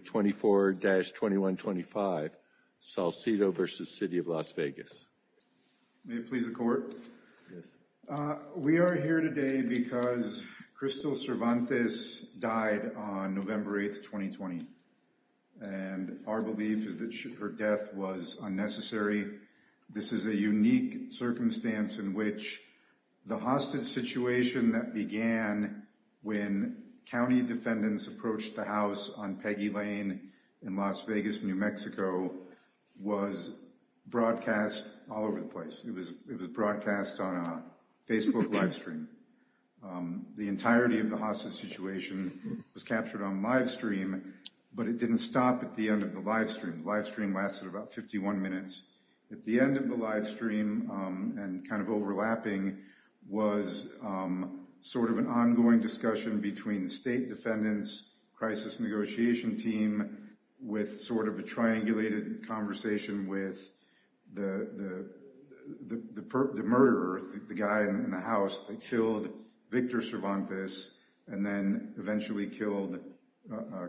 24-2125 Salcido v. City of Las Vegas. May it please the court. We are here today because Crystal Cervantes died on November 8th 2020 and our belief is that her death was unnecessary. This is a unique circumstance in which the hostage situation that began when county defendants approached the house on Peggy Lane in Las Vegas, New Mexico was broadcast all over the place. It was broadcast on a Facebook live stream. The entirety of the hostage situation was captured on live stream but it didn't stop at the end of the live stream. The live stream lasted about 51 minutes. At the end of the live stream and kind of sort of an ongoing discussion between state defendants, crisis negotiation team, with sort of a triangulated conversation with the murderer, the guy in the house that killed Victor Cervantes and then eventually killed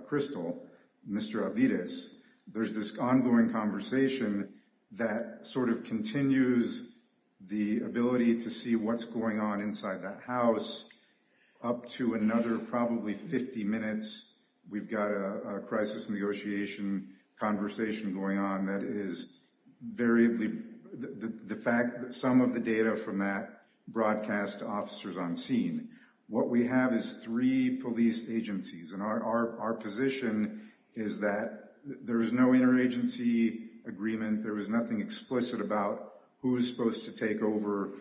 Crystal, Mr. Avides. There's this ongoing conversation that sort of continues the ability to see what's going on inside that house up to another probably 50 minutes. We've got a crisis negotiation conversation going on that is variably the fact that some of the data from that broadcast to officers on scene. What we have is police agencies and our position is that there is no interagency agreement. There is nothing explicit about who's supposed to take over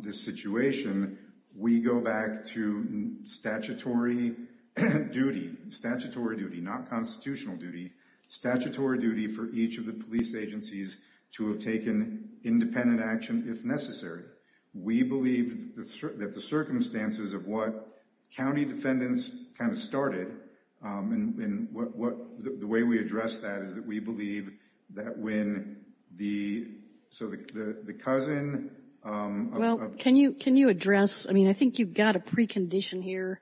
this situation. We go back to statutory duty, statutory duty, not constitutional duty. Statutory duty for each of the police agencies to have taken independent action if necessary. We believe that the circumstances of what county defendants kind of started and the way we address that is that we believe that when the cousin... Well, can you address, I mean, I think you've got a precondition here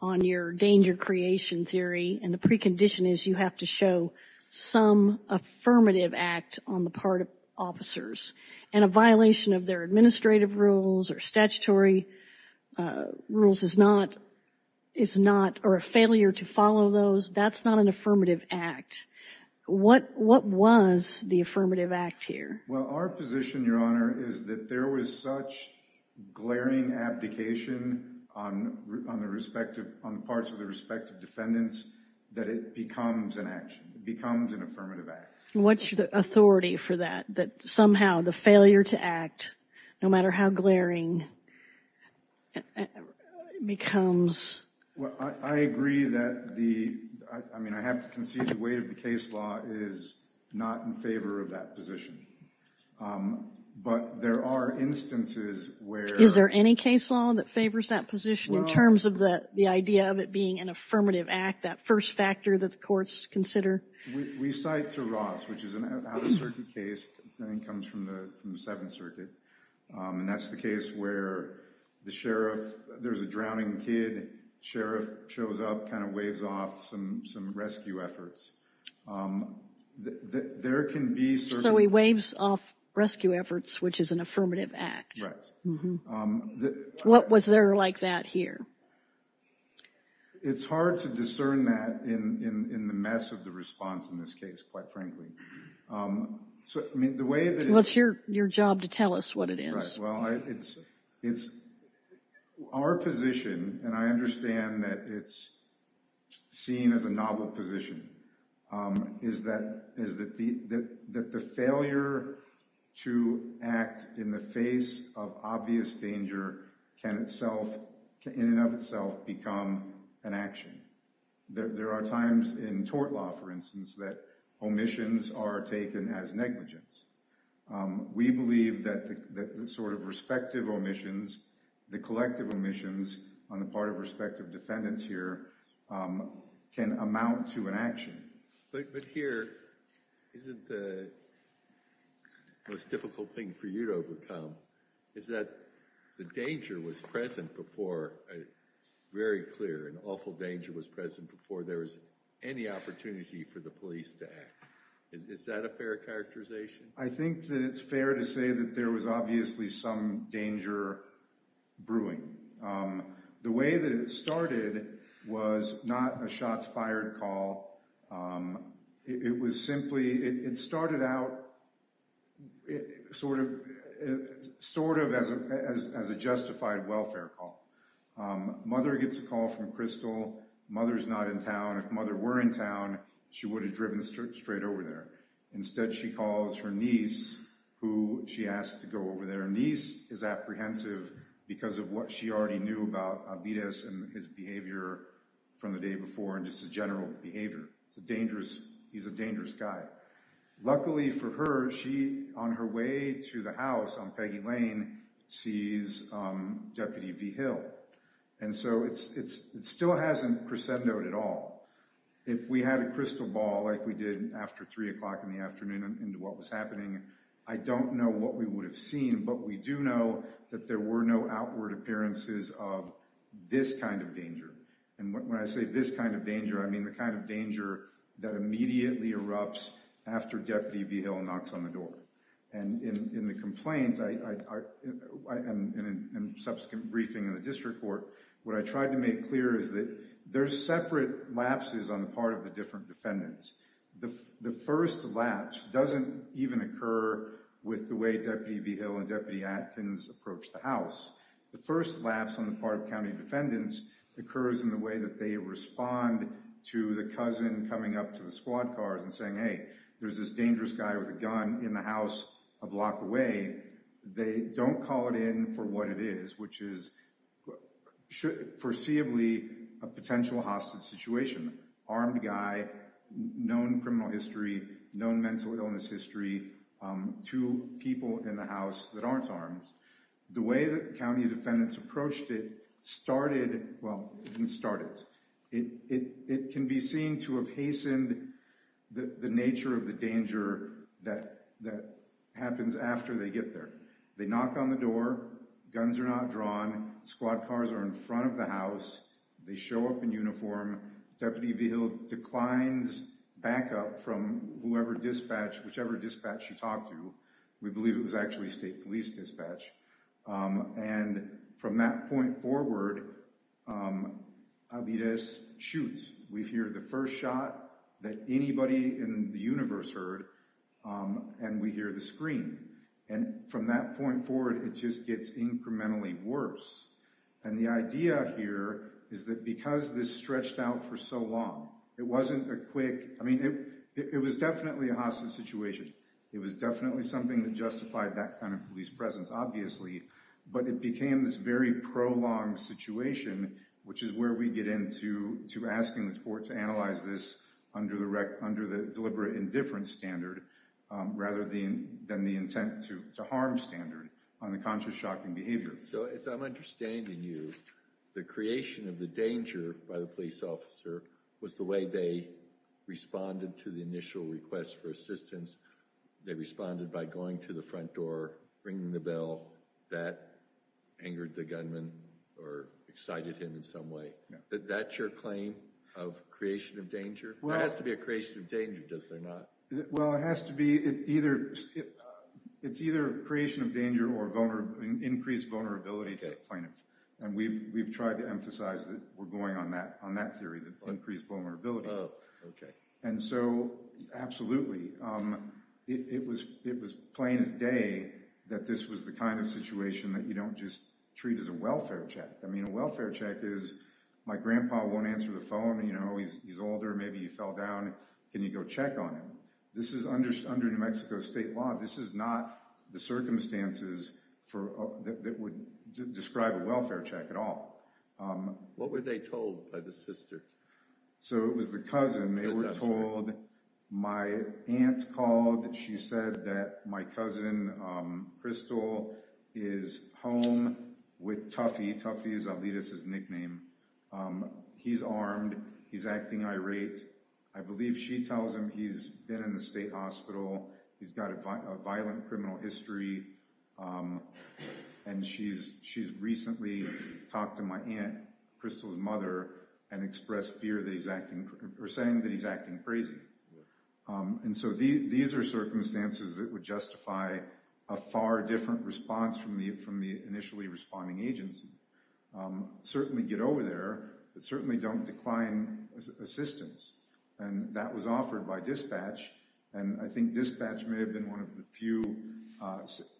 on your danger creation theory and the precondition is you have to show some affirmative act on the part of officers and a violation of their administrative rules or statutory rules is not, or a failure to follow those, that's not an affirmative act. What was the affirmative act here? Well, our position, your honor, is that there was such glaring abdication on the parts of the respective defendants that it becomes an action. It becomes an affirmative act. What's the authority for that? That somehow the failure to act, no matter how glaring, becomes... Well, I agree that the, I mean, I have to concede the weight of the case law is not in favor of that position, but there are instances where... Is there any case law that favors that position in terms of the idea of it being an affirmative act, that first factor that the courts consider? We cite to Ross, which is an out-of-circuit case, I think comes from the Seventh Circuit, and that's the case where the sheriff, there's a drowning kid, sheriff shows up, kind of waves off some rescue efforts. There can be certain... So he waves off rescue efforts, which is an affirmative act. Right. What was there like that here? It's hard to discern that in the mess of the response in this case, quite frankly. So, I mean, the way that... Well, it's your job to tell us what it is. Well, it's... Our position, and I understand that it's seen as a novel position, is that the failure to act in the face of obvious danger can in and of itself become an action. There are times in tort law, for instance, that omissions are taken as negligence. We believe that sort of respective omissions, the collective omissions on the part of respective defendants here can amount to an action. But here, isn't the most difficult thing for you to overcome is that the danger was present before, very clear, an awful danger was present before there was any opportunity for the police to act. Is that a fair characterization? I think that it's fair to say that there was obviously some danger brewing. The way that it started was not a shots fired call. It was simply... It started out sort of as a justified welfare call. Mother gets a call from Crystal. Mother's not in town. If mother were in town, she would have driven straight over there. Instead, she calls her niece, who she asked to go over there. Her niece is apprehensive because of what she already knew about Albedez and his behavior from the day before, and just his general behavior. He's a dangerous guy. Luckily for her, she, on her way to the house on Peggy Lane, sees Deputy V. Hill. And so, it still hasn't crescendoed at all. If we had a crystal ball like we did after three o'clock in the afternoon into what was happening, I don't know what we would have seen. But we do know that there were no outward appearances of this kind of danger. And when I say this kind of danger, I mean the kind of danger that immediately erupts after Deputy V. Hill knocks on the door. And in the complaint, and in subsequent briefing in the district court, what I tried to make clear is that there's separate lapses on the part of the different defendants. The first lapse doesn't even occur with the way Deputy V. Hill and Deputy Atkins approach the house. The first lapse on the part of county defendants occurs in the way that they respond to the cousin coming up to the squad cars and saying, hey, there's this dangerous guy with a gun in the house a block away. They don't call it in for what it is, which is foreseeably a potential hostage situation. Armed guy, known criminal history, known mental illness history, two people in the house that aren't armed. The way that county defendants approached it started, well, didn't start it. It can be seen to have hastened the nature of the danger that happens after they get there. They knock on the door. Guns are not drawn. Squad cars are in front of the house. They show up in uniform. Deputy V. Hill declines backup from whoever dispatched, whichever dispatch she talked to. We believe it was actually state police dispatch. And from that point forward, Alvarez shoots. We hear the first shot that anybody in the universe heard, and we hear the scream. And from that point forward, it just gets incrementally worse. And the idea here is that because this stretched out for so long, it wasn't a quick, I mean, it was definitely a hostage situation. It was definitely something that justified that kind presence, obviously. But it became this very prolonged situation, which is where we get into asking the court to analyze this under the deliberate indifference standard, rather than the intent to harm standard on the conscious shocking behavior. So as I'm understanding you, the creation of the danger by the police officer was the way they responded to the initial request for assistance. They responded by going to the front door, ringing the bell that angered the gunman or excited him in some way. That's your claim of creation of danger? It has to be a creation of danger, does it not? Well, it has to be. It's either creation of danger or increased vulnerability to the plaintiff. And we've tried to emphasize that we're going on that theory, increased vulnerability. And so absolutely, it was plain as day that this was the kind of situation that you don't just treat as a welfare check. I mean, a welfare check is, my grandpa won't answer the phone, you know, he's older, maybe he fell down, can you go check on him? This is under New Mexico state law. This is not the circumstances that would describe a welfare check at all. What were they told by the sister? So it was the cousin they were told. My aunt called, she said that my cousin, Crystal, is home with Tuffy. Tuffy is Alitas' nickname. He's armed. He's acting irate. I believe she tells him he's been in the state hospital. He's got a violent criminal history. And she's recently talked to my aunt, Crystal's mother, and expressed fear that he's acting, or saying that he's acting crazy. And so these are circumstances that would justify a far different response from the initially responding agency. Certainly get over there, but certainly don't decline assistance. And that was offered by dispatch. And I think dispatch may have been one of the few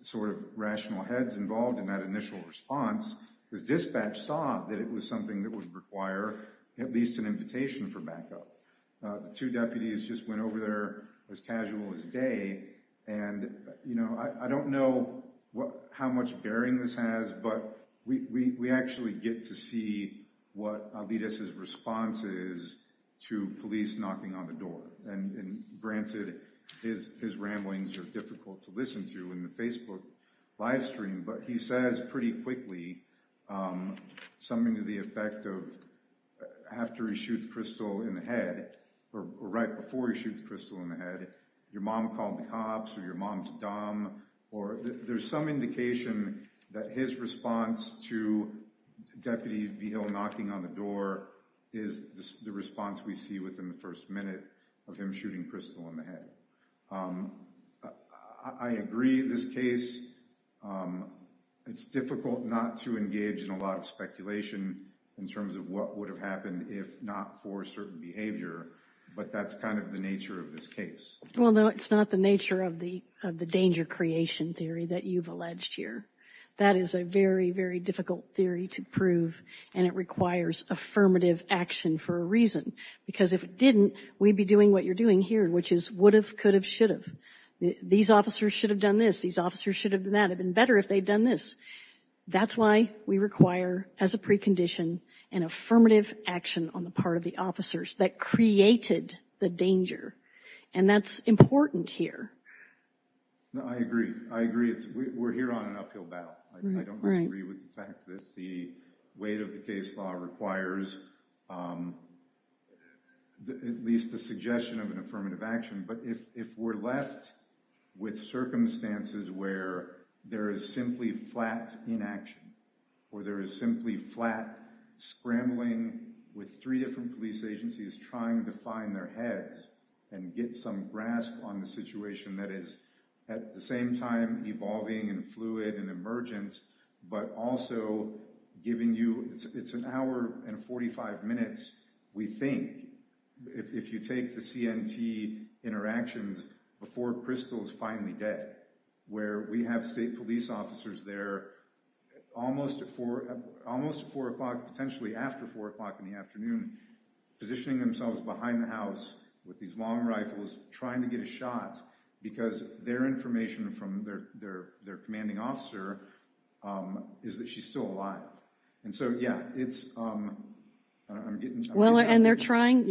sort of rational heads involved in that initial response, because dispatch saw that it was something that would require at least an invitation for backup. The two deputies just went over there as casual as day. And, you know, I don't know how much bearing this has, but we actually get to see what Alitas' response is to police knocking on the door. And granted, his ramblings are difficult to listen to in the Facebook live stream, but he says pretty quickly something to the effect of, after he shoots Crystal in the head, or right before he shoots Crystal in the head, your mom called the cops, or your mom's dumb, or there's some indication that his response to Deputy Vigil knocking on the door is the response we see within the first minute of him shooting Crystal in the head. I agree this case. It's difficult not to engage in a lot of speculation in terms of what would have happened if not for certain behavior. But that's kind of the nature of this case. Well, no, it's not the nature of the of the danger creation theory that you've alleged here. That is a very, very difficult theory to prove, and it requires affirmative action for a reason. Because if it didn't, we'd be doing what you're doing here, which is would have, could have, should have. These officers should have done this. These officers should have done that. It'd have been better if they'd done this. That's why we require, as a precondition, an affirmative action on the part of the officers that created the danger. And that's important here. No, I agree. I agree. We're here on an uphill battle. I don't disagree with the fact that the weight of the case law requires at least the suggestion of an affirmative action. But if we're left with circumstances where there is simply flat inaction, or there is simply flat scrambling with three different police agencies trying to find their heads and get some grasp on a situation that is at the same time evolving and fluid and emergent, but also giving you, it's an hour and 45 minutes, we think, if you take the CNT interactions before Crystal's finally dead, where we have state police officers there almost at four, almost four o'clock, potentially after four o'clock in the afternoon, positioning themselves behind the house with these long rifles, trying to get a shot, because their information from their commanding officer is that she's still alive. And so, yeah, it's, I'm getting... Well, and they're trying,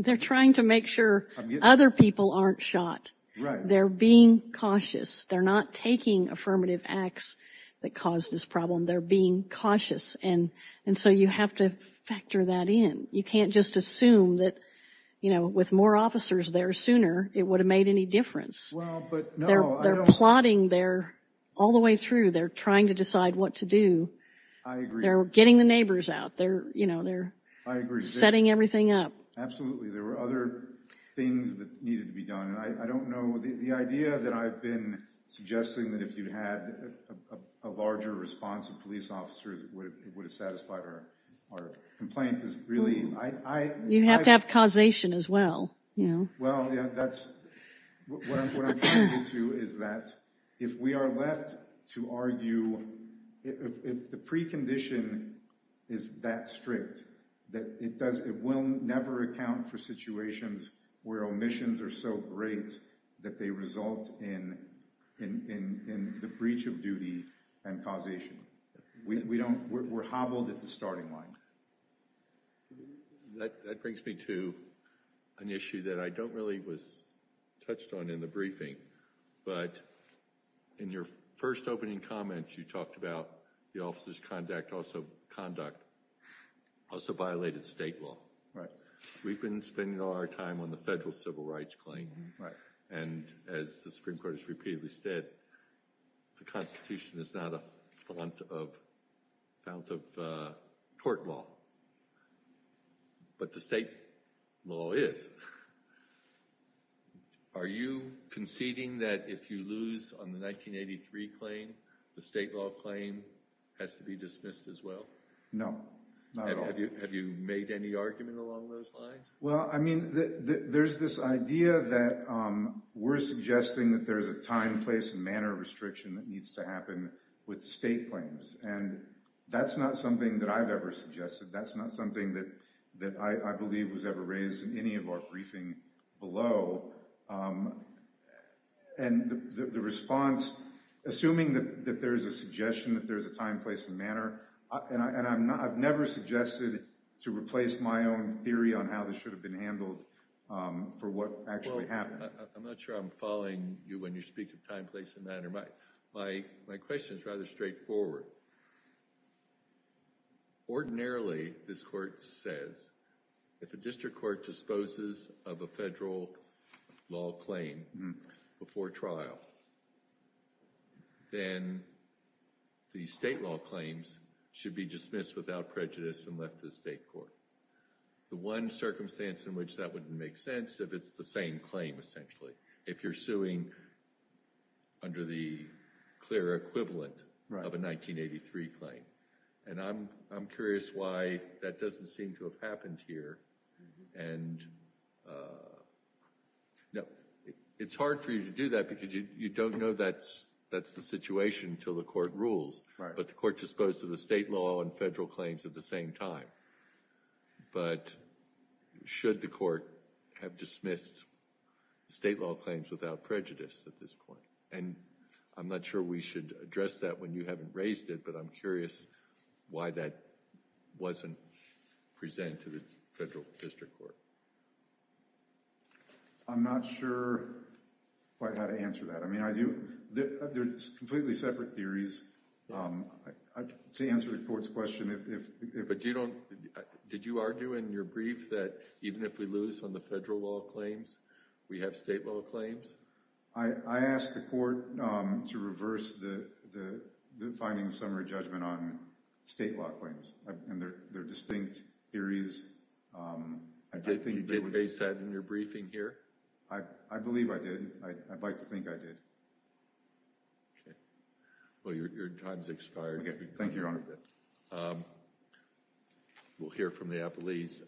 they're trying to make sure other people aren't shot. Right. They're being cautious. They're not taking affirmative acts that caused this problem. They're being cautious. And so you have to factor that in. You can't just assume that, you know, with more officers there sooner, it would have made any difference. Well, but... They're plotting there all the way through. They're trying to decide what to do. I agree. They're getting the neighbors out there. You know, they're... I agree. ...setting everything up. Absolutely. There were other things that needed to be done. And I don't know, the idea that I've been suggesting that if you had a larger response of police officers, it would have satisfied our complaint is really... You'd have to have causation as well, you know? Well, yeah, that's what I'm trying to do too, is that if we are left to argue, if the precondition is that strict, that it will never account for situations where omissions are so great that they result in the breach of duty and causation. We're hobbled at the starting line. That brings me to an issue that I don't really was touched on in the briefing. But in your first opening comments, you talked about the officers' conduct also violated state law. Right. We've been spending all our time on the federal civil rights claim. Right. And as the Supreme Court has repeatedly said, the Constitution is not a fount of court law. But the state law is. Are you conceding that if you lose on the 1983 claim, the state law claim has to be dismissed as well? No, not at all. Have you made any argument along those lines? Well, I mean, there's this idea that we're suggesting that there's a time, place, and manner restriction that needs to happen with state claims. And that's not something that I've ever suggested. That's not something that I believe was ever raised in any of our briefing below. And the response, assuming that there's a suggestion that there's a time, place, and manner, and I've never suggested to replace my own theory on how this should have been handled for what actually happened. I'm not sure I'm following you when you speak of time, place, and manner. My question is rather straightforward. Ordinarily, this court says, if a district court disposes of a federal law claim before trial, then the state law claims should be dismissed without prejudice and left to the state court. The one circumstance in which that wouldn't make sense if it's the same claim, essentially, if you're suing under the clear equivalent of a 1983 claim. And I'm curious why that doesn't seem to have happened here. And it's hard for you to do that because you don't know that's the situation until the court rules. But the court disposed of the state law and federal claims at the same time. But should the court have dismissed state law claims without prejudice at this point? And I'm not sure we should address that when you haven't raised it. But I'm curious why that wasn't presented to the federal district court. I'm not sure quite how to answer that. I mean, there's completely separate theories. To answer the court's question, if you don't, did you argue in your brief that even if we lose on the federal law claims, we have state law claims? I asked the court to reverse the finding of summary judgment on state law claims. And there are distinct theories. You did base that in your briefing here? I believe I did. I'd like to think I did. OK. Well, your time's expired. OK. Thank you, Your Honor. We'll hear from the appellees.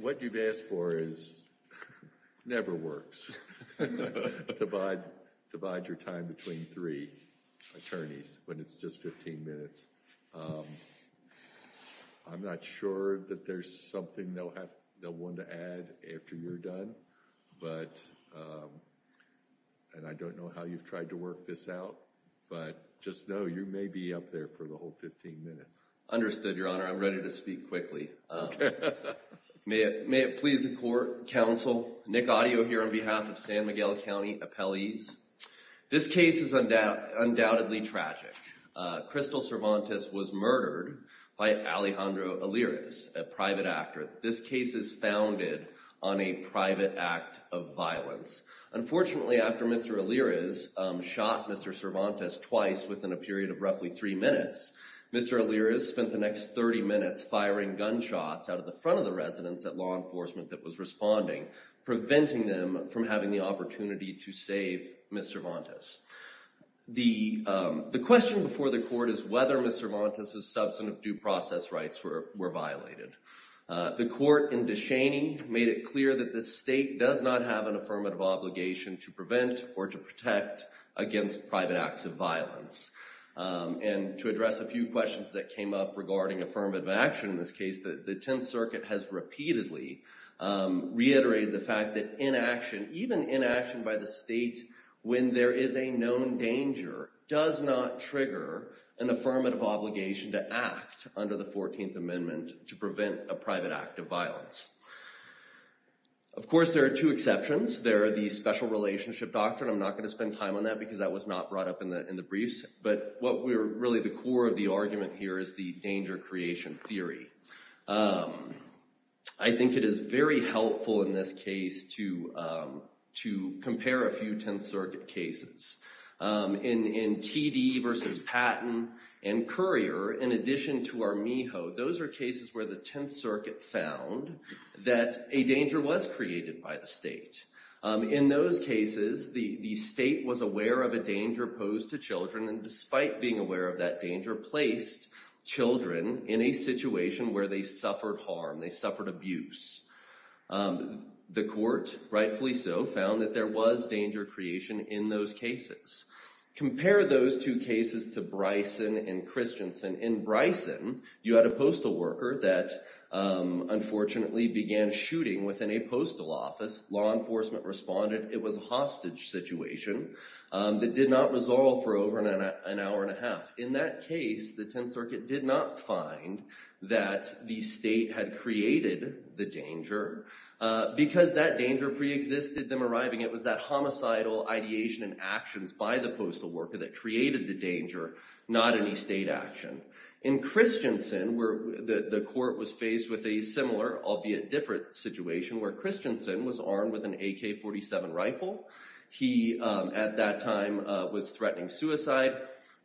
What you've asked for never works. Divide your time between three attorneys when it's just 15 minutes. I'm not sure that there's something they'll want to add after you're done. And I don't know how you've tried to work this out. But just know you may be up there for the whole 15 minutes. Understood, Your Honor. I'm ready to speak quickly. OK. May it please the court, counsel, Nick Adio here on behalf of San Miguel County appellees. This case is undoubtedly tragic. Crystal Cervantes was murdered by Alejandro Allirez, a private actor. This case is founded on a private act of violence. Unfortunately, after Mr. Allirez shot Mr. Cervantes twice within a period of roughly three minutes, Mr. Allirez spent the next 30 minutes firing gunshots out of the front of the residence at law enforcement that was responding, preventing them from having the opportunity to save Mr. Cervantes. The question before the court is whether Mr. Cervantes' substantive due process rights were violated. The court in Descheny made it clear that the state does not have an affirmative obligation to prevent or to protect against private acts of violence. And to address a few questions that came up regarding affirmative action in this case, the Tenth Circuit has repeatedly reiterated the fact that inaction, even inaction by the state when there is a known danger, does not trigger an affirmative obligation to act under the 14th Amendment to prevent a private act of violence. Of course, there are two exceptions. There are the special relationship doctrine. I'm not going to spend time on that because that was not brought up in the briefs. But what we're really the core of the argument here is the danger creation theory. I think it is very helpful in this case to compare a few Tenth Circuit cases. In TD versus Patton and Currier, in addition to Armijo, those are cases where the Tenth Circuit found that a danger was created by the state. In those cases, the state was aware of a danger posed to children, and despite being aware of that danger, placed children in a situation where they suffered harm, they suffered abuse. The court, rightfully so, found that there was danger creation in those cases. Compare those two cases to Bryson and Christensen. In Bryson, you had a postal worker that unfortunately began shooting within a postal office. Law enforcement responded it was a hostage situation that did not resolve for over an hour and a half. In that case, the Tenth Circuit did not find that the state had created the danger because that danger preexisted them arriving. It was that homicidal ideation and actions by the postal worker that created the danger, not any state action. In Christensen, where the court was faced with a similar, albeit different, situation where Christensen was armed with an AK-47 rifle. He, at that time, was threatening suicide.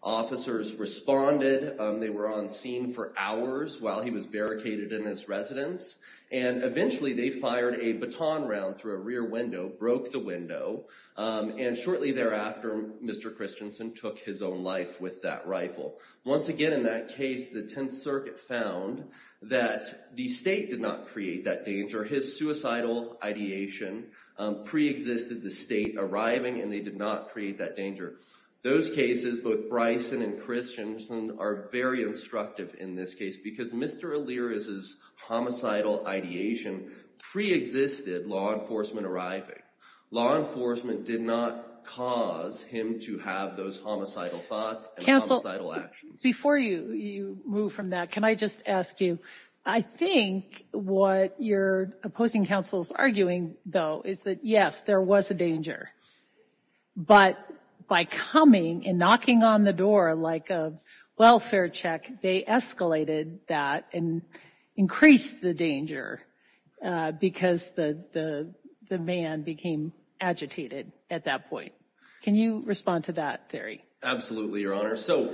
Officers responded. They were on scene for hours while he was barricaded in his residence, and eventually they fired a baton round through a rear window, broke the window, and shortly thereafter, Mr. Christensen took his own life with that rifle. Once again, in that case, the Tenth Circuit found that the state did not create that danger. His suicidal ideation preexisted the state arriving, and they did not create that danger. Those cases, both Bryson and Christensen, are very instructive in this case because Mr. Allirez's homicidal ideation preexisted law enforcement arriving. Law enforcement did not cause him to have those homicidal thoughts and homicidal actions. Before you move from that, can I just ask you, I think what your opposing counsel is arguing, though, is that, yes, there was a danger, but by coming and knocking on the door like a welfare check, they escalated that and increased the danger because the man became agitated at that point. Can you respond to that theory? Absolutely, Your Honor. So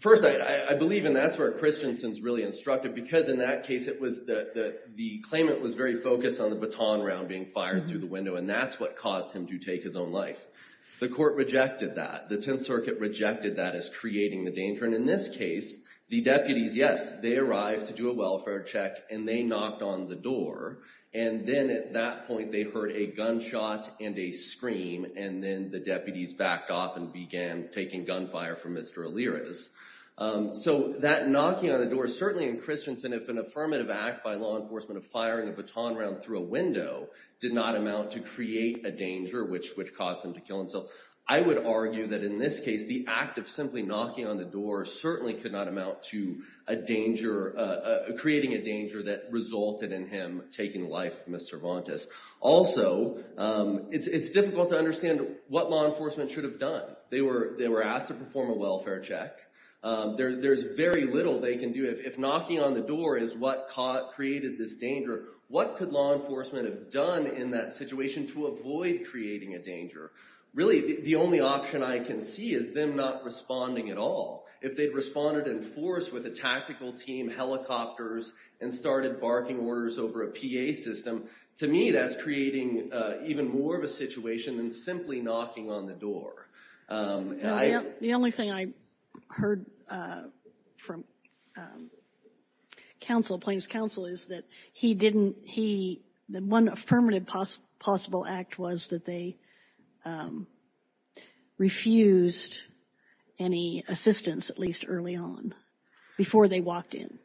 first, I believe, and that's where Christensen's really instructive because in that case, it was the claimant was very focused on the baton round being fired through the window, and that's what caused him to take his own life. The court rejected that. The Tenth Circuit rejected that as creating the danger, and in this case, the deputies, yes, they arrived to do a welfare check, and they knocked on the door, and then at that point, they heard a gunshot and a scream, and then the deputies backed off and began taking gunfire from Mr. Elirez. So that knocking on the door, certainly in Christensen, if an affirmative act by law enforcement of firing a baton round through a window did not amount to create a danger, which caused him to kill himself, I would argue that in this case, the act of simply knocking on the door certainly could not amount to a danger, creating a danger that resulted in him taking life of Ms. Cervantes. Also, it's difficult to understand what law enforcement should have done. They were asked to perform a welfare check. There's very little they can do. If knocking on the door is what created this danger, what could law enforcement have done in that situation to avoid creating a danger? Really, the only option I can see is them not responding at all. If they'd responded in force with a tactical team, helicopters, and started barking orders over a PA system, to me, that's creating even more of a situation than simply knocking on the door. The only thing I heard from Plaintiff's counsel is that one affirmative possible act was that they refused any assistance, at least early on, before they walked in.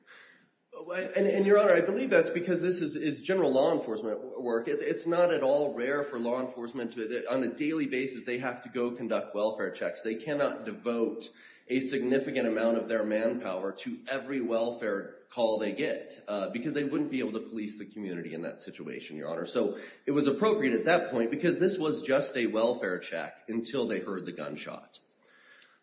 And Your Honor, I believe that's because this is general law enforcement work. It's not at all rare for law enforcement to, on a daily basis, they have to go conduct welfare checks. They cannot devote a significant amount of their manpower to every welfare call they get, because they wouldn't be able to police the community in that situation, Your Honor. So it was appropriate at that point, because this was just a welfare check until they heard the gunshot.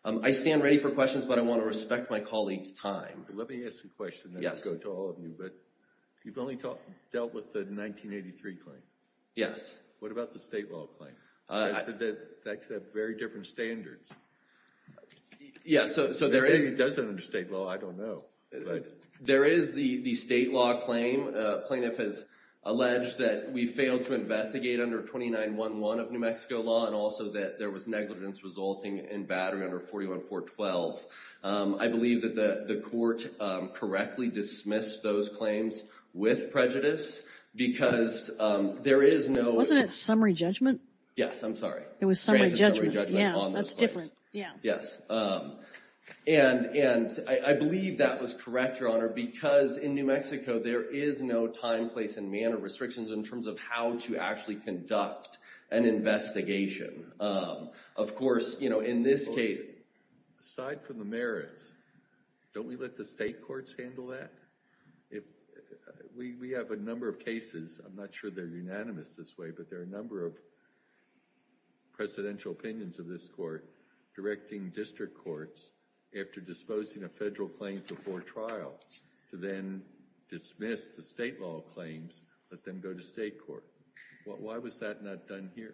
I stand ready for questions, but I want to respect my colleagues' time. Let me ask you a question, then I'll go to all of you. But you've only dealt with the 1983 claim. Yes. What about the state law claim? That could have very different standards. Yeah, so there is— Maybe it doesn't under state law, I don't know. There is the state law claim. Plaintiff has alleged that we failed to investigate under 2911 of New Mexico law, and also that there was negligence resulting in battery under 41412. I believe that the court correctly dismissed those claims with prejudice, because there is no— Wasn't it summary judgment? Yes, I'm sorry. It was summary judgment. Yeah, that's different. Yeah. Yes. And I believe that was correct, Your Honor, because in New Mexico there is no time, place, and manner restrictions in terms of how to actually conduct an investigation. Of course, you know, in this case— Aside from the merits, don't we let the state courts handle that? We have a number of cases, I'm not sure they're unanimous this way, but there are a number of presidential opinions of this court directing district courts, after disposing of federal claims before trial, to then dismiss the state law claims, let them go to state court. Why was that not done here?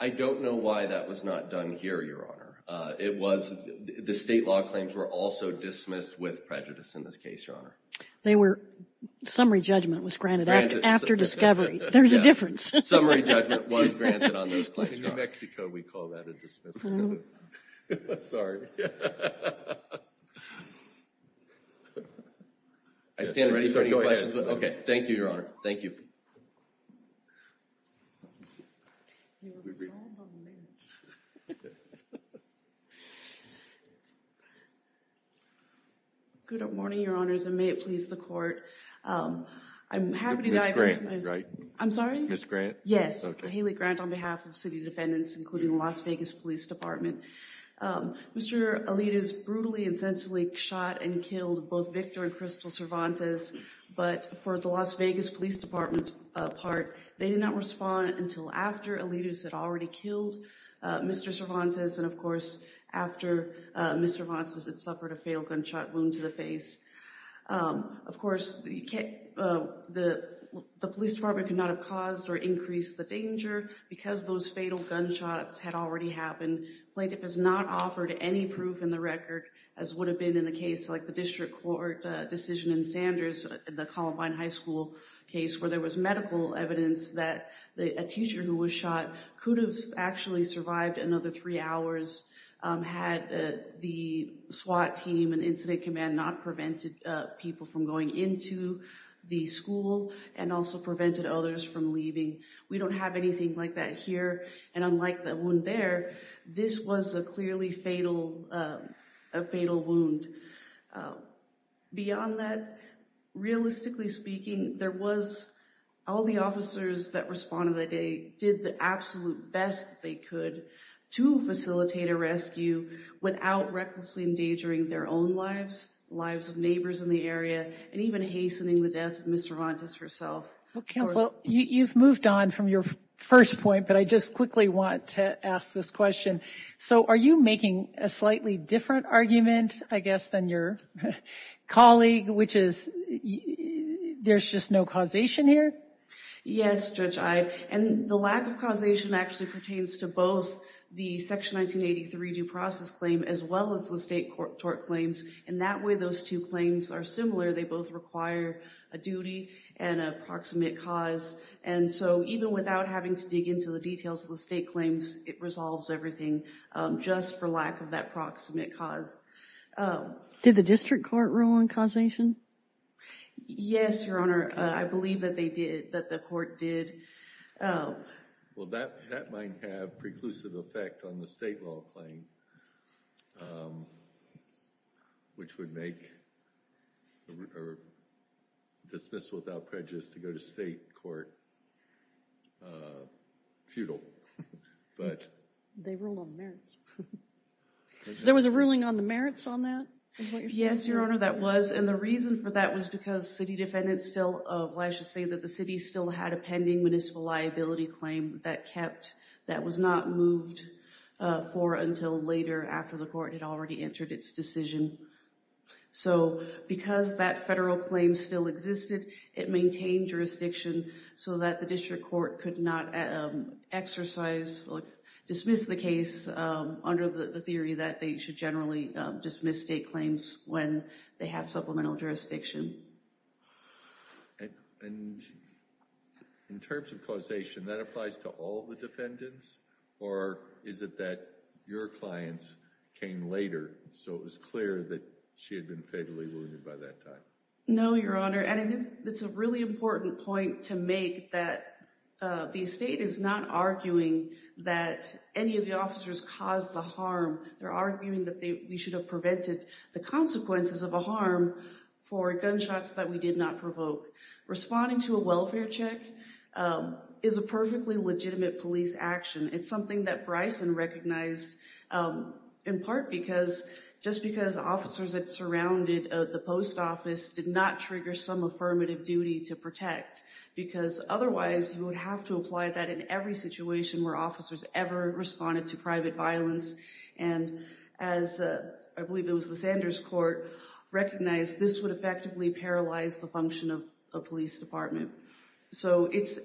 I don't know why that was not done here, Your Honor. It was—the state law claims were also dismissed with prejudice in this case, Your Honor. They were—summary judgment was granted after discovery. There's a difference. Summary judgment was granted on those claims. In New Mexico, we call that a dismissal. Sorry. I stand ready for any questions. Okay. Thank you, Your Honor. Thank you. Good morning, Your Honors, and may it please the Court. I'm happy to dive into my— Ms. Graham, right? I'm sorry? Ms. Grant. Yes. Haley Grant on behalf of city defendants, including the Las Vegas Police Department. Mr. Alitas brutally and sensibly shot and killed both Victor and Crystal Cervantes, but for the Las Vegas Police Department's part, they did not respond until after Alitas had already killed Mr. Cervantes, and, of course, after Ms. Cervantes had suffered a fatal gunshot wound to the face. Of course, the police department could not have caused or increased the danger because those fatal gunshots had already happened. Plaintiff has not offered any proof in the record, as would have been in a case like the district court decision in Sanders, the Columbine High School case, where there was medical evidence that a teacher who was shot could have actually survived another three hours, had the SWAT team and incident command not prevented people from going into the school and also prevented others from leaving. We don't have anything like that here, and unlike the wound there, this was a clearly fatal—a fatal wound. Beyond that, realistically speaking, there was—all the officers that responded that they did the absolute best that they could to facilitate a rescue without recklessly endangering their own lives, the lives of neighbors in the area, and even hastening the death of Ms. Cervantes herself. Well, Counselor, you've moved on from your first point, but I just quickly want to ask this question. So are you making a slightly different argument, I guess, than your colleague, which is there's just no causation here? Yes, Judge Ide, and the lack of causation actually pertains to both the Section 1983 due process claim as well as the state court claims, and that way those two claims are similar. They both require a duty and a proximate cause, and so even without having to dig into the details of the state claims, it resolves everything just for lack of that proximate cause. Did the district court rule on causation? Yes, Your Honor. I believe that they did, that the court did. Well, that might have preclusive effect on the state law claim, which would make a dismissal without prejudice to go to state court futile. They ruled on merits. There was a ruling on the merits on that? Yes, Your Honor, that was, and the reason for that was because city defendants still should say that the city still had a pending municipal liability claim that kept, that was not moved for until later after the court had already entered its decision. So because that federal claim still existed, it maintained jurisdiction so that the district court could not exercise, dismiss the case under the theory that they should generally dismiss state claims when they have supplemental jurisdiction. And in terms of causation, that applies to all the defendants? Or is it that your clients came later, so it was clear that she had been fatally wounded by that time? No, Your Honor, and I think that's a really important point to make that the state is not arguing that any of the officers caused the harm. They're arguing that we should have prevented the consequences of a harm for gunshots that we did not provoke. Responding to a welfare check is a perfectly legitimate police action. It's something that Bryson recognized in part because, just because officers that surrounded the post office did not trigger some affirmative duty to protect. Because otherwise, you would have to apply that in every situation where officers ever responded to private violence. And as I believe it was the Sanders court recognized, this would effectively paralyze the function of a police department. So it's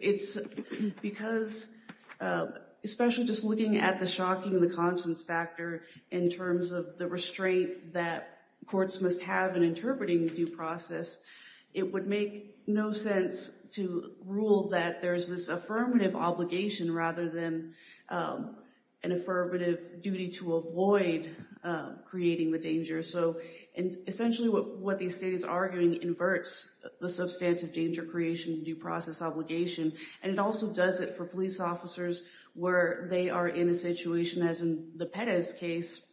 because, especially just looking at the shocking, the conscience factor in terms of the restraint that courts must have in interpreting due process, it would make no sense to rule that there's this affirmative obligation rather than an affirmative duty to avoid creating the danger. So essentially what the state is arguing inverts the substantive danger creation due process obligation. And it also does it for police officers where they are in a situation, as in the Perez case,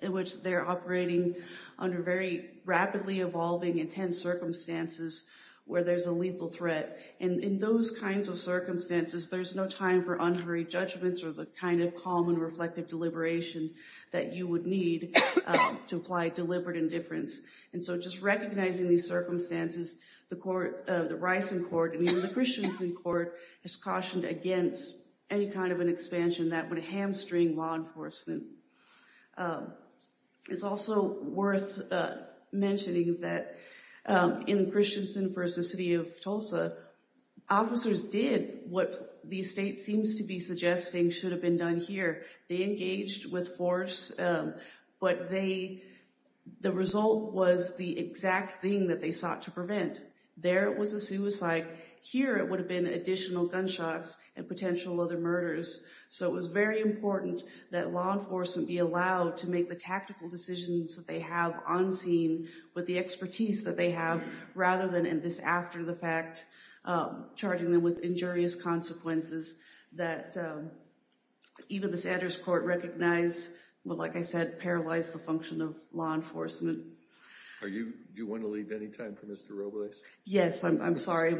in which they're operating under very rapidly evolving, intense circumstances where there's a lethal threat. And in those kinds of circumstances, there's no time for unhurried judgments or the kind of calm and reflective deliberation that you would need to apply deliberate indifference. And so just recognizing these circumstances, the Rice and Court, and even the Christians in court, has cautioned against any kind of an expansion that would hamstring law enforcement. It's also worth mentioning that in Christiansen v. City of Tulsa, officers did what the state seems to be suggesting should have been done here. They engaged with force, but the result was the exact thing that they sought to prevent. There, it was a suicide. Here, it would have been additional gunshots and potential other murders. So it was very important that law enforcement be allowed to make the tactical decisions that they have on scene with the expertise that they have rather than this after the fact, charting them with injurious consequences that even the Satter's Court recognized would, like I said, paralyze the function of law enforcement. Are you, do you want to leave any time for Mr. Robles? Yes, I'm sorry.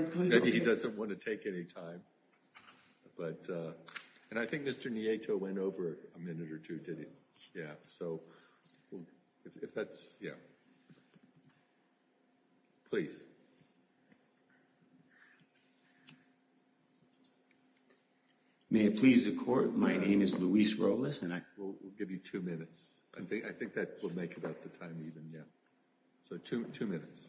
He doesn't want to take any time. But, and I think Mr. Nieto went over a minute or two, did he? Yeah, so if that's, yeah. Please. Okay. May it please the court, my name is Luis Robles and I... We'll give you two minutes. I think that will make it up to time even, yeah. So two minutes.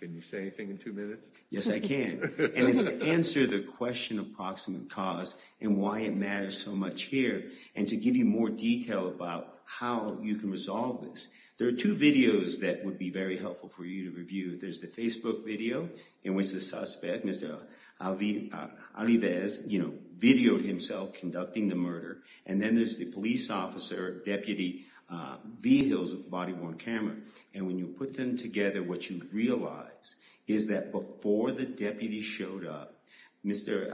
Can you say anything in two minutes? Yes, I can. And it's to answer the question of proximate cause and why it matters so much here and to give you more detail about how you can resolve this. There are two videos that would be very helpful for you to review. There's the Facebook video in which the suspect, Mr. Alivez, you know, videoed himself conducting the murder. And then there's the police officer, Deputy Vigil's body-worn camera. And when you put them together, what you realize is that before the deputy showed up, Mr.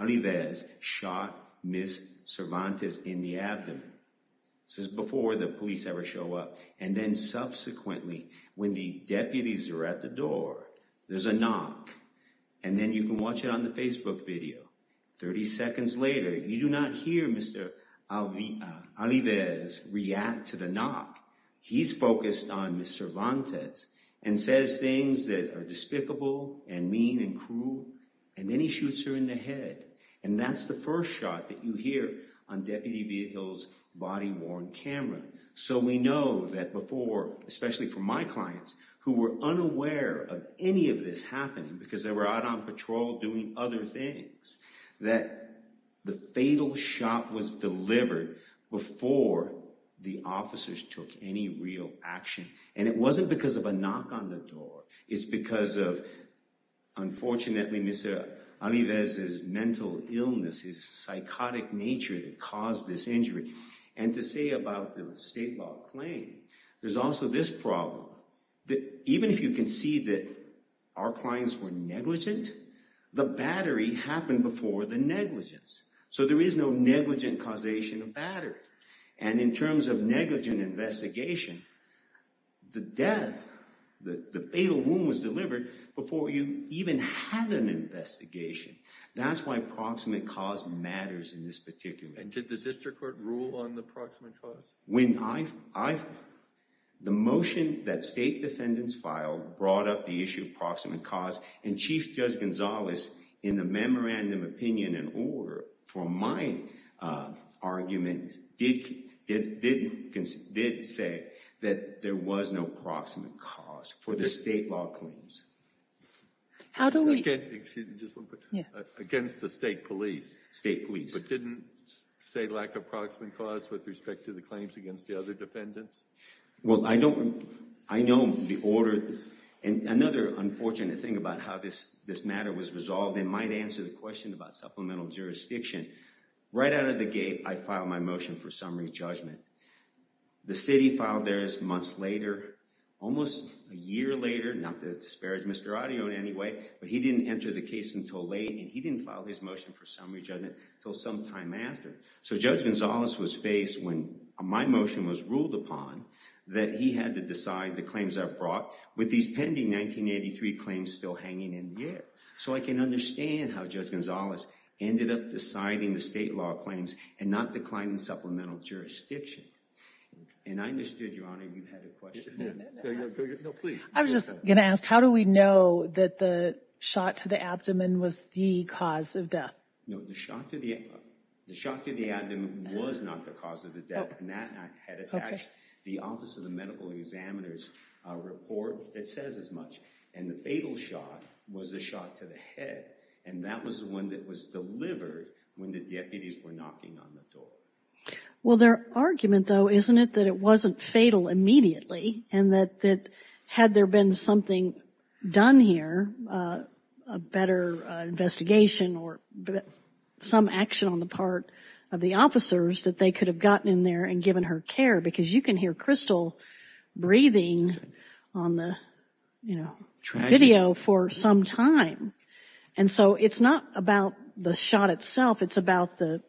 Alivez shot Ms. Cervantes in the abdomen. This is before the police ever show up. And then subsequently, when the deputies are at the door, there's a knock. And then you can watch it on the Facebook video. 30 seconds later, you do not hear Mr. Alivez react to the knock. He's focused on Ms. Cervantes and says things that are despicable and mean and cruel. And then he shoots her in the head. And that's the first shot that you hear on Deputy Vigil's body-worn camera. So we know that before, especially for my clients who were unaware of any of this happening because they were out on patrol doing other things, that the fatal shot was delivered before the officers took any real action. And it wasn't because of a knock on the door. It's because of, unfortunately, Mr. Alivez's mental illness, his psychotic nature that caused this injury. And to say about the state law claim, there's also this problem. Even if you can see that our clients were negligent, the battery happened before the negligence. So there is no negligent causation of battery. And in terms of negligent investigation, the death, the fatal wound was delivered before you even had an investigation. That's why proximate cause matters in this particular case. Did the district court rule on the proximate cause? The motion that state defendants filed brought up the issue of proximate cause. And Chief Judge Gonzales, in the memorandum opinion and order for my argument, did say that there was no proximate cause for the state law claims. Against the state police. State police. But didn't say lack of proximate cause with respect to the claims against the other defendants? Well, I know the order. And another unfortunate thing about how this matter was resolved, it might answer the question about supplemental jurisdiction. Right out of the gate, I filed my motion for summary judgment. The city filed theirs months later, almost a year later. Not to disparage Mr. Arion anyway, but he didn't enter the case until late. He didn't file his motion for summary judgment until some time after. So Judge Gonzales was faced, when my motion was ruled upon, that he had to decide the claims I brought with these pending 1983 claims still hanging in the air. So I can understand how Judge Gonzales ended up deciding the state law claims and not declining supplemental jurisdiction. And I understood, Your Honor, you had a question. No, please. I was just going to ask, how do we know that the shot to the abdomen was the cause of death? No, the shot to the abdomen was not the cause of the death. And that had attached the Office of the Medical Examiner's report that says as much. And the fatal shot was the shot to the head. And that was the one that was delivered when the deputies were knocking on the door. Well, their argument, though, isn't it that it wasn't fatal immediately and that had there been something done here, a better investigation or some action on the part of the officers that they could have gotten in there and given her care? Because you can hear Crystal breathing on the video for some time. And so it's not about the shot itself. It's about the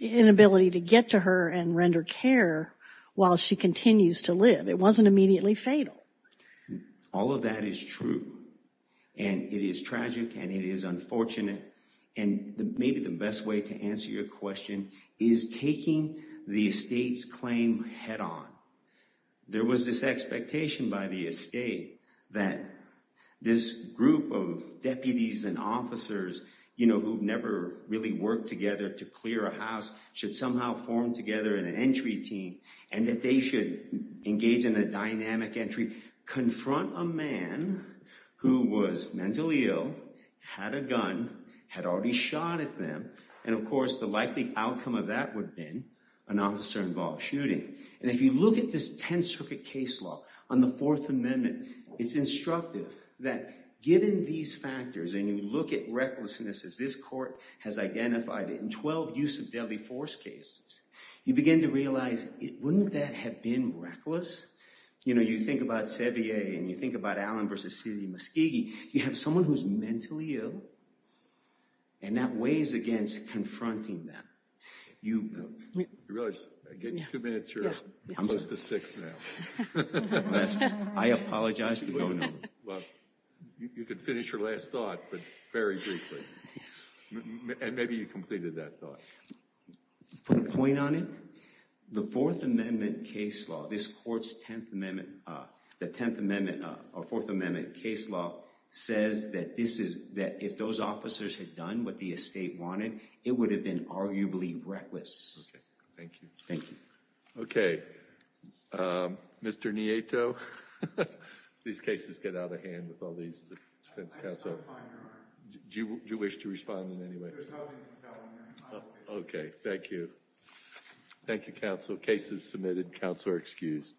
inability to get to her and render care while she continues to live. It wasn't immediately fatal. All of that is true. And it is tragic and it is unfortunate. And maybe the best way to answer your question is taking the estate's claim head on. There was this expectation by the estate that this group of deputies and officers, you know, who've never really worked together to clear a house, should somehow form together an entry team and that they should engage in a dynamic entry, confront a man who was mentally ill, had a gun, had already shot at them. And of course, the likely outcome of that would have been an officer-involved shooting. And if you look at this 10th Circuit case law on the Fourth Amendment, it's instructive that given these factors and you look at recklessness, as this court has identified in 12 use of deadly force cases, you begin to realize, wouldn't that have been reckless? You know, you think about Sevier and you think about Allen versus Seedy Muskegee, you have someone who's mentally ill and that weighs against confronting them. You realize, getting two minutes, you're close to six now. I apologize for going on. You could finish your last thought, but very briefly. And maybe you completed that thought. Put a point on it. The Fourth Amendment case law, this court's 10th Amendment, the 10th Amendment or Fourth Amendment case law says that this is that if those officers had done what the estate wanted, it would have been arguably reckless. Thank you. Thank you. OK, Mr. Nieto, these cases get out of hand with all these defense counsel. Do you wish to respond in any way? OK, thank you. Thank you, counsel. Cases submitted. Counsel are excused.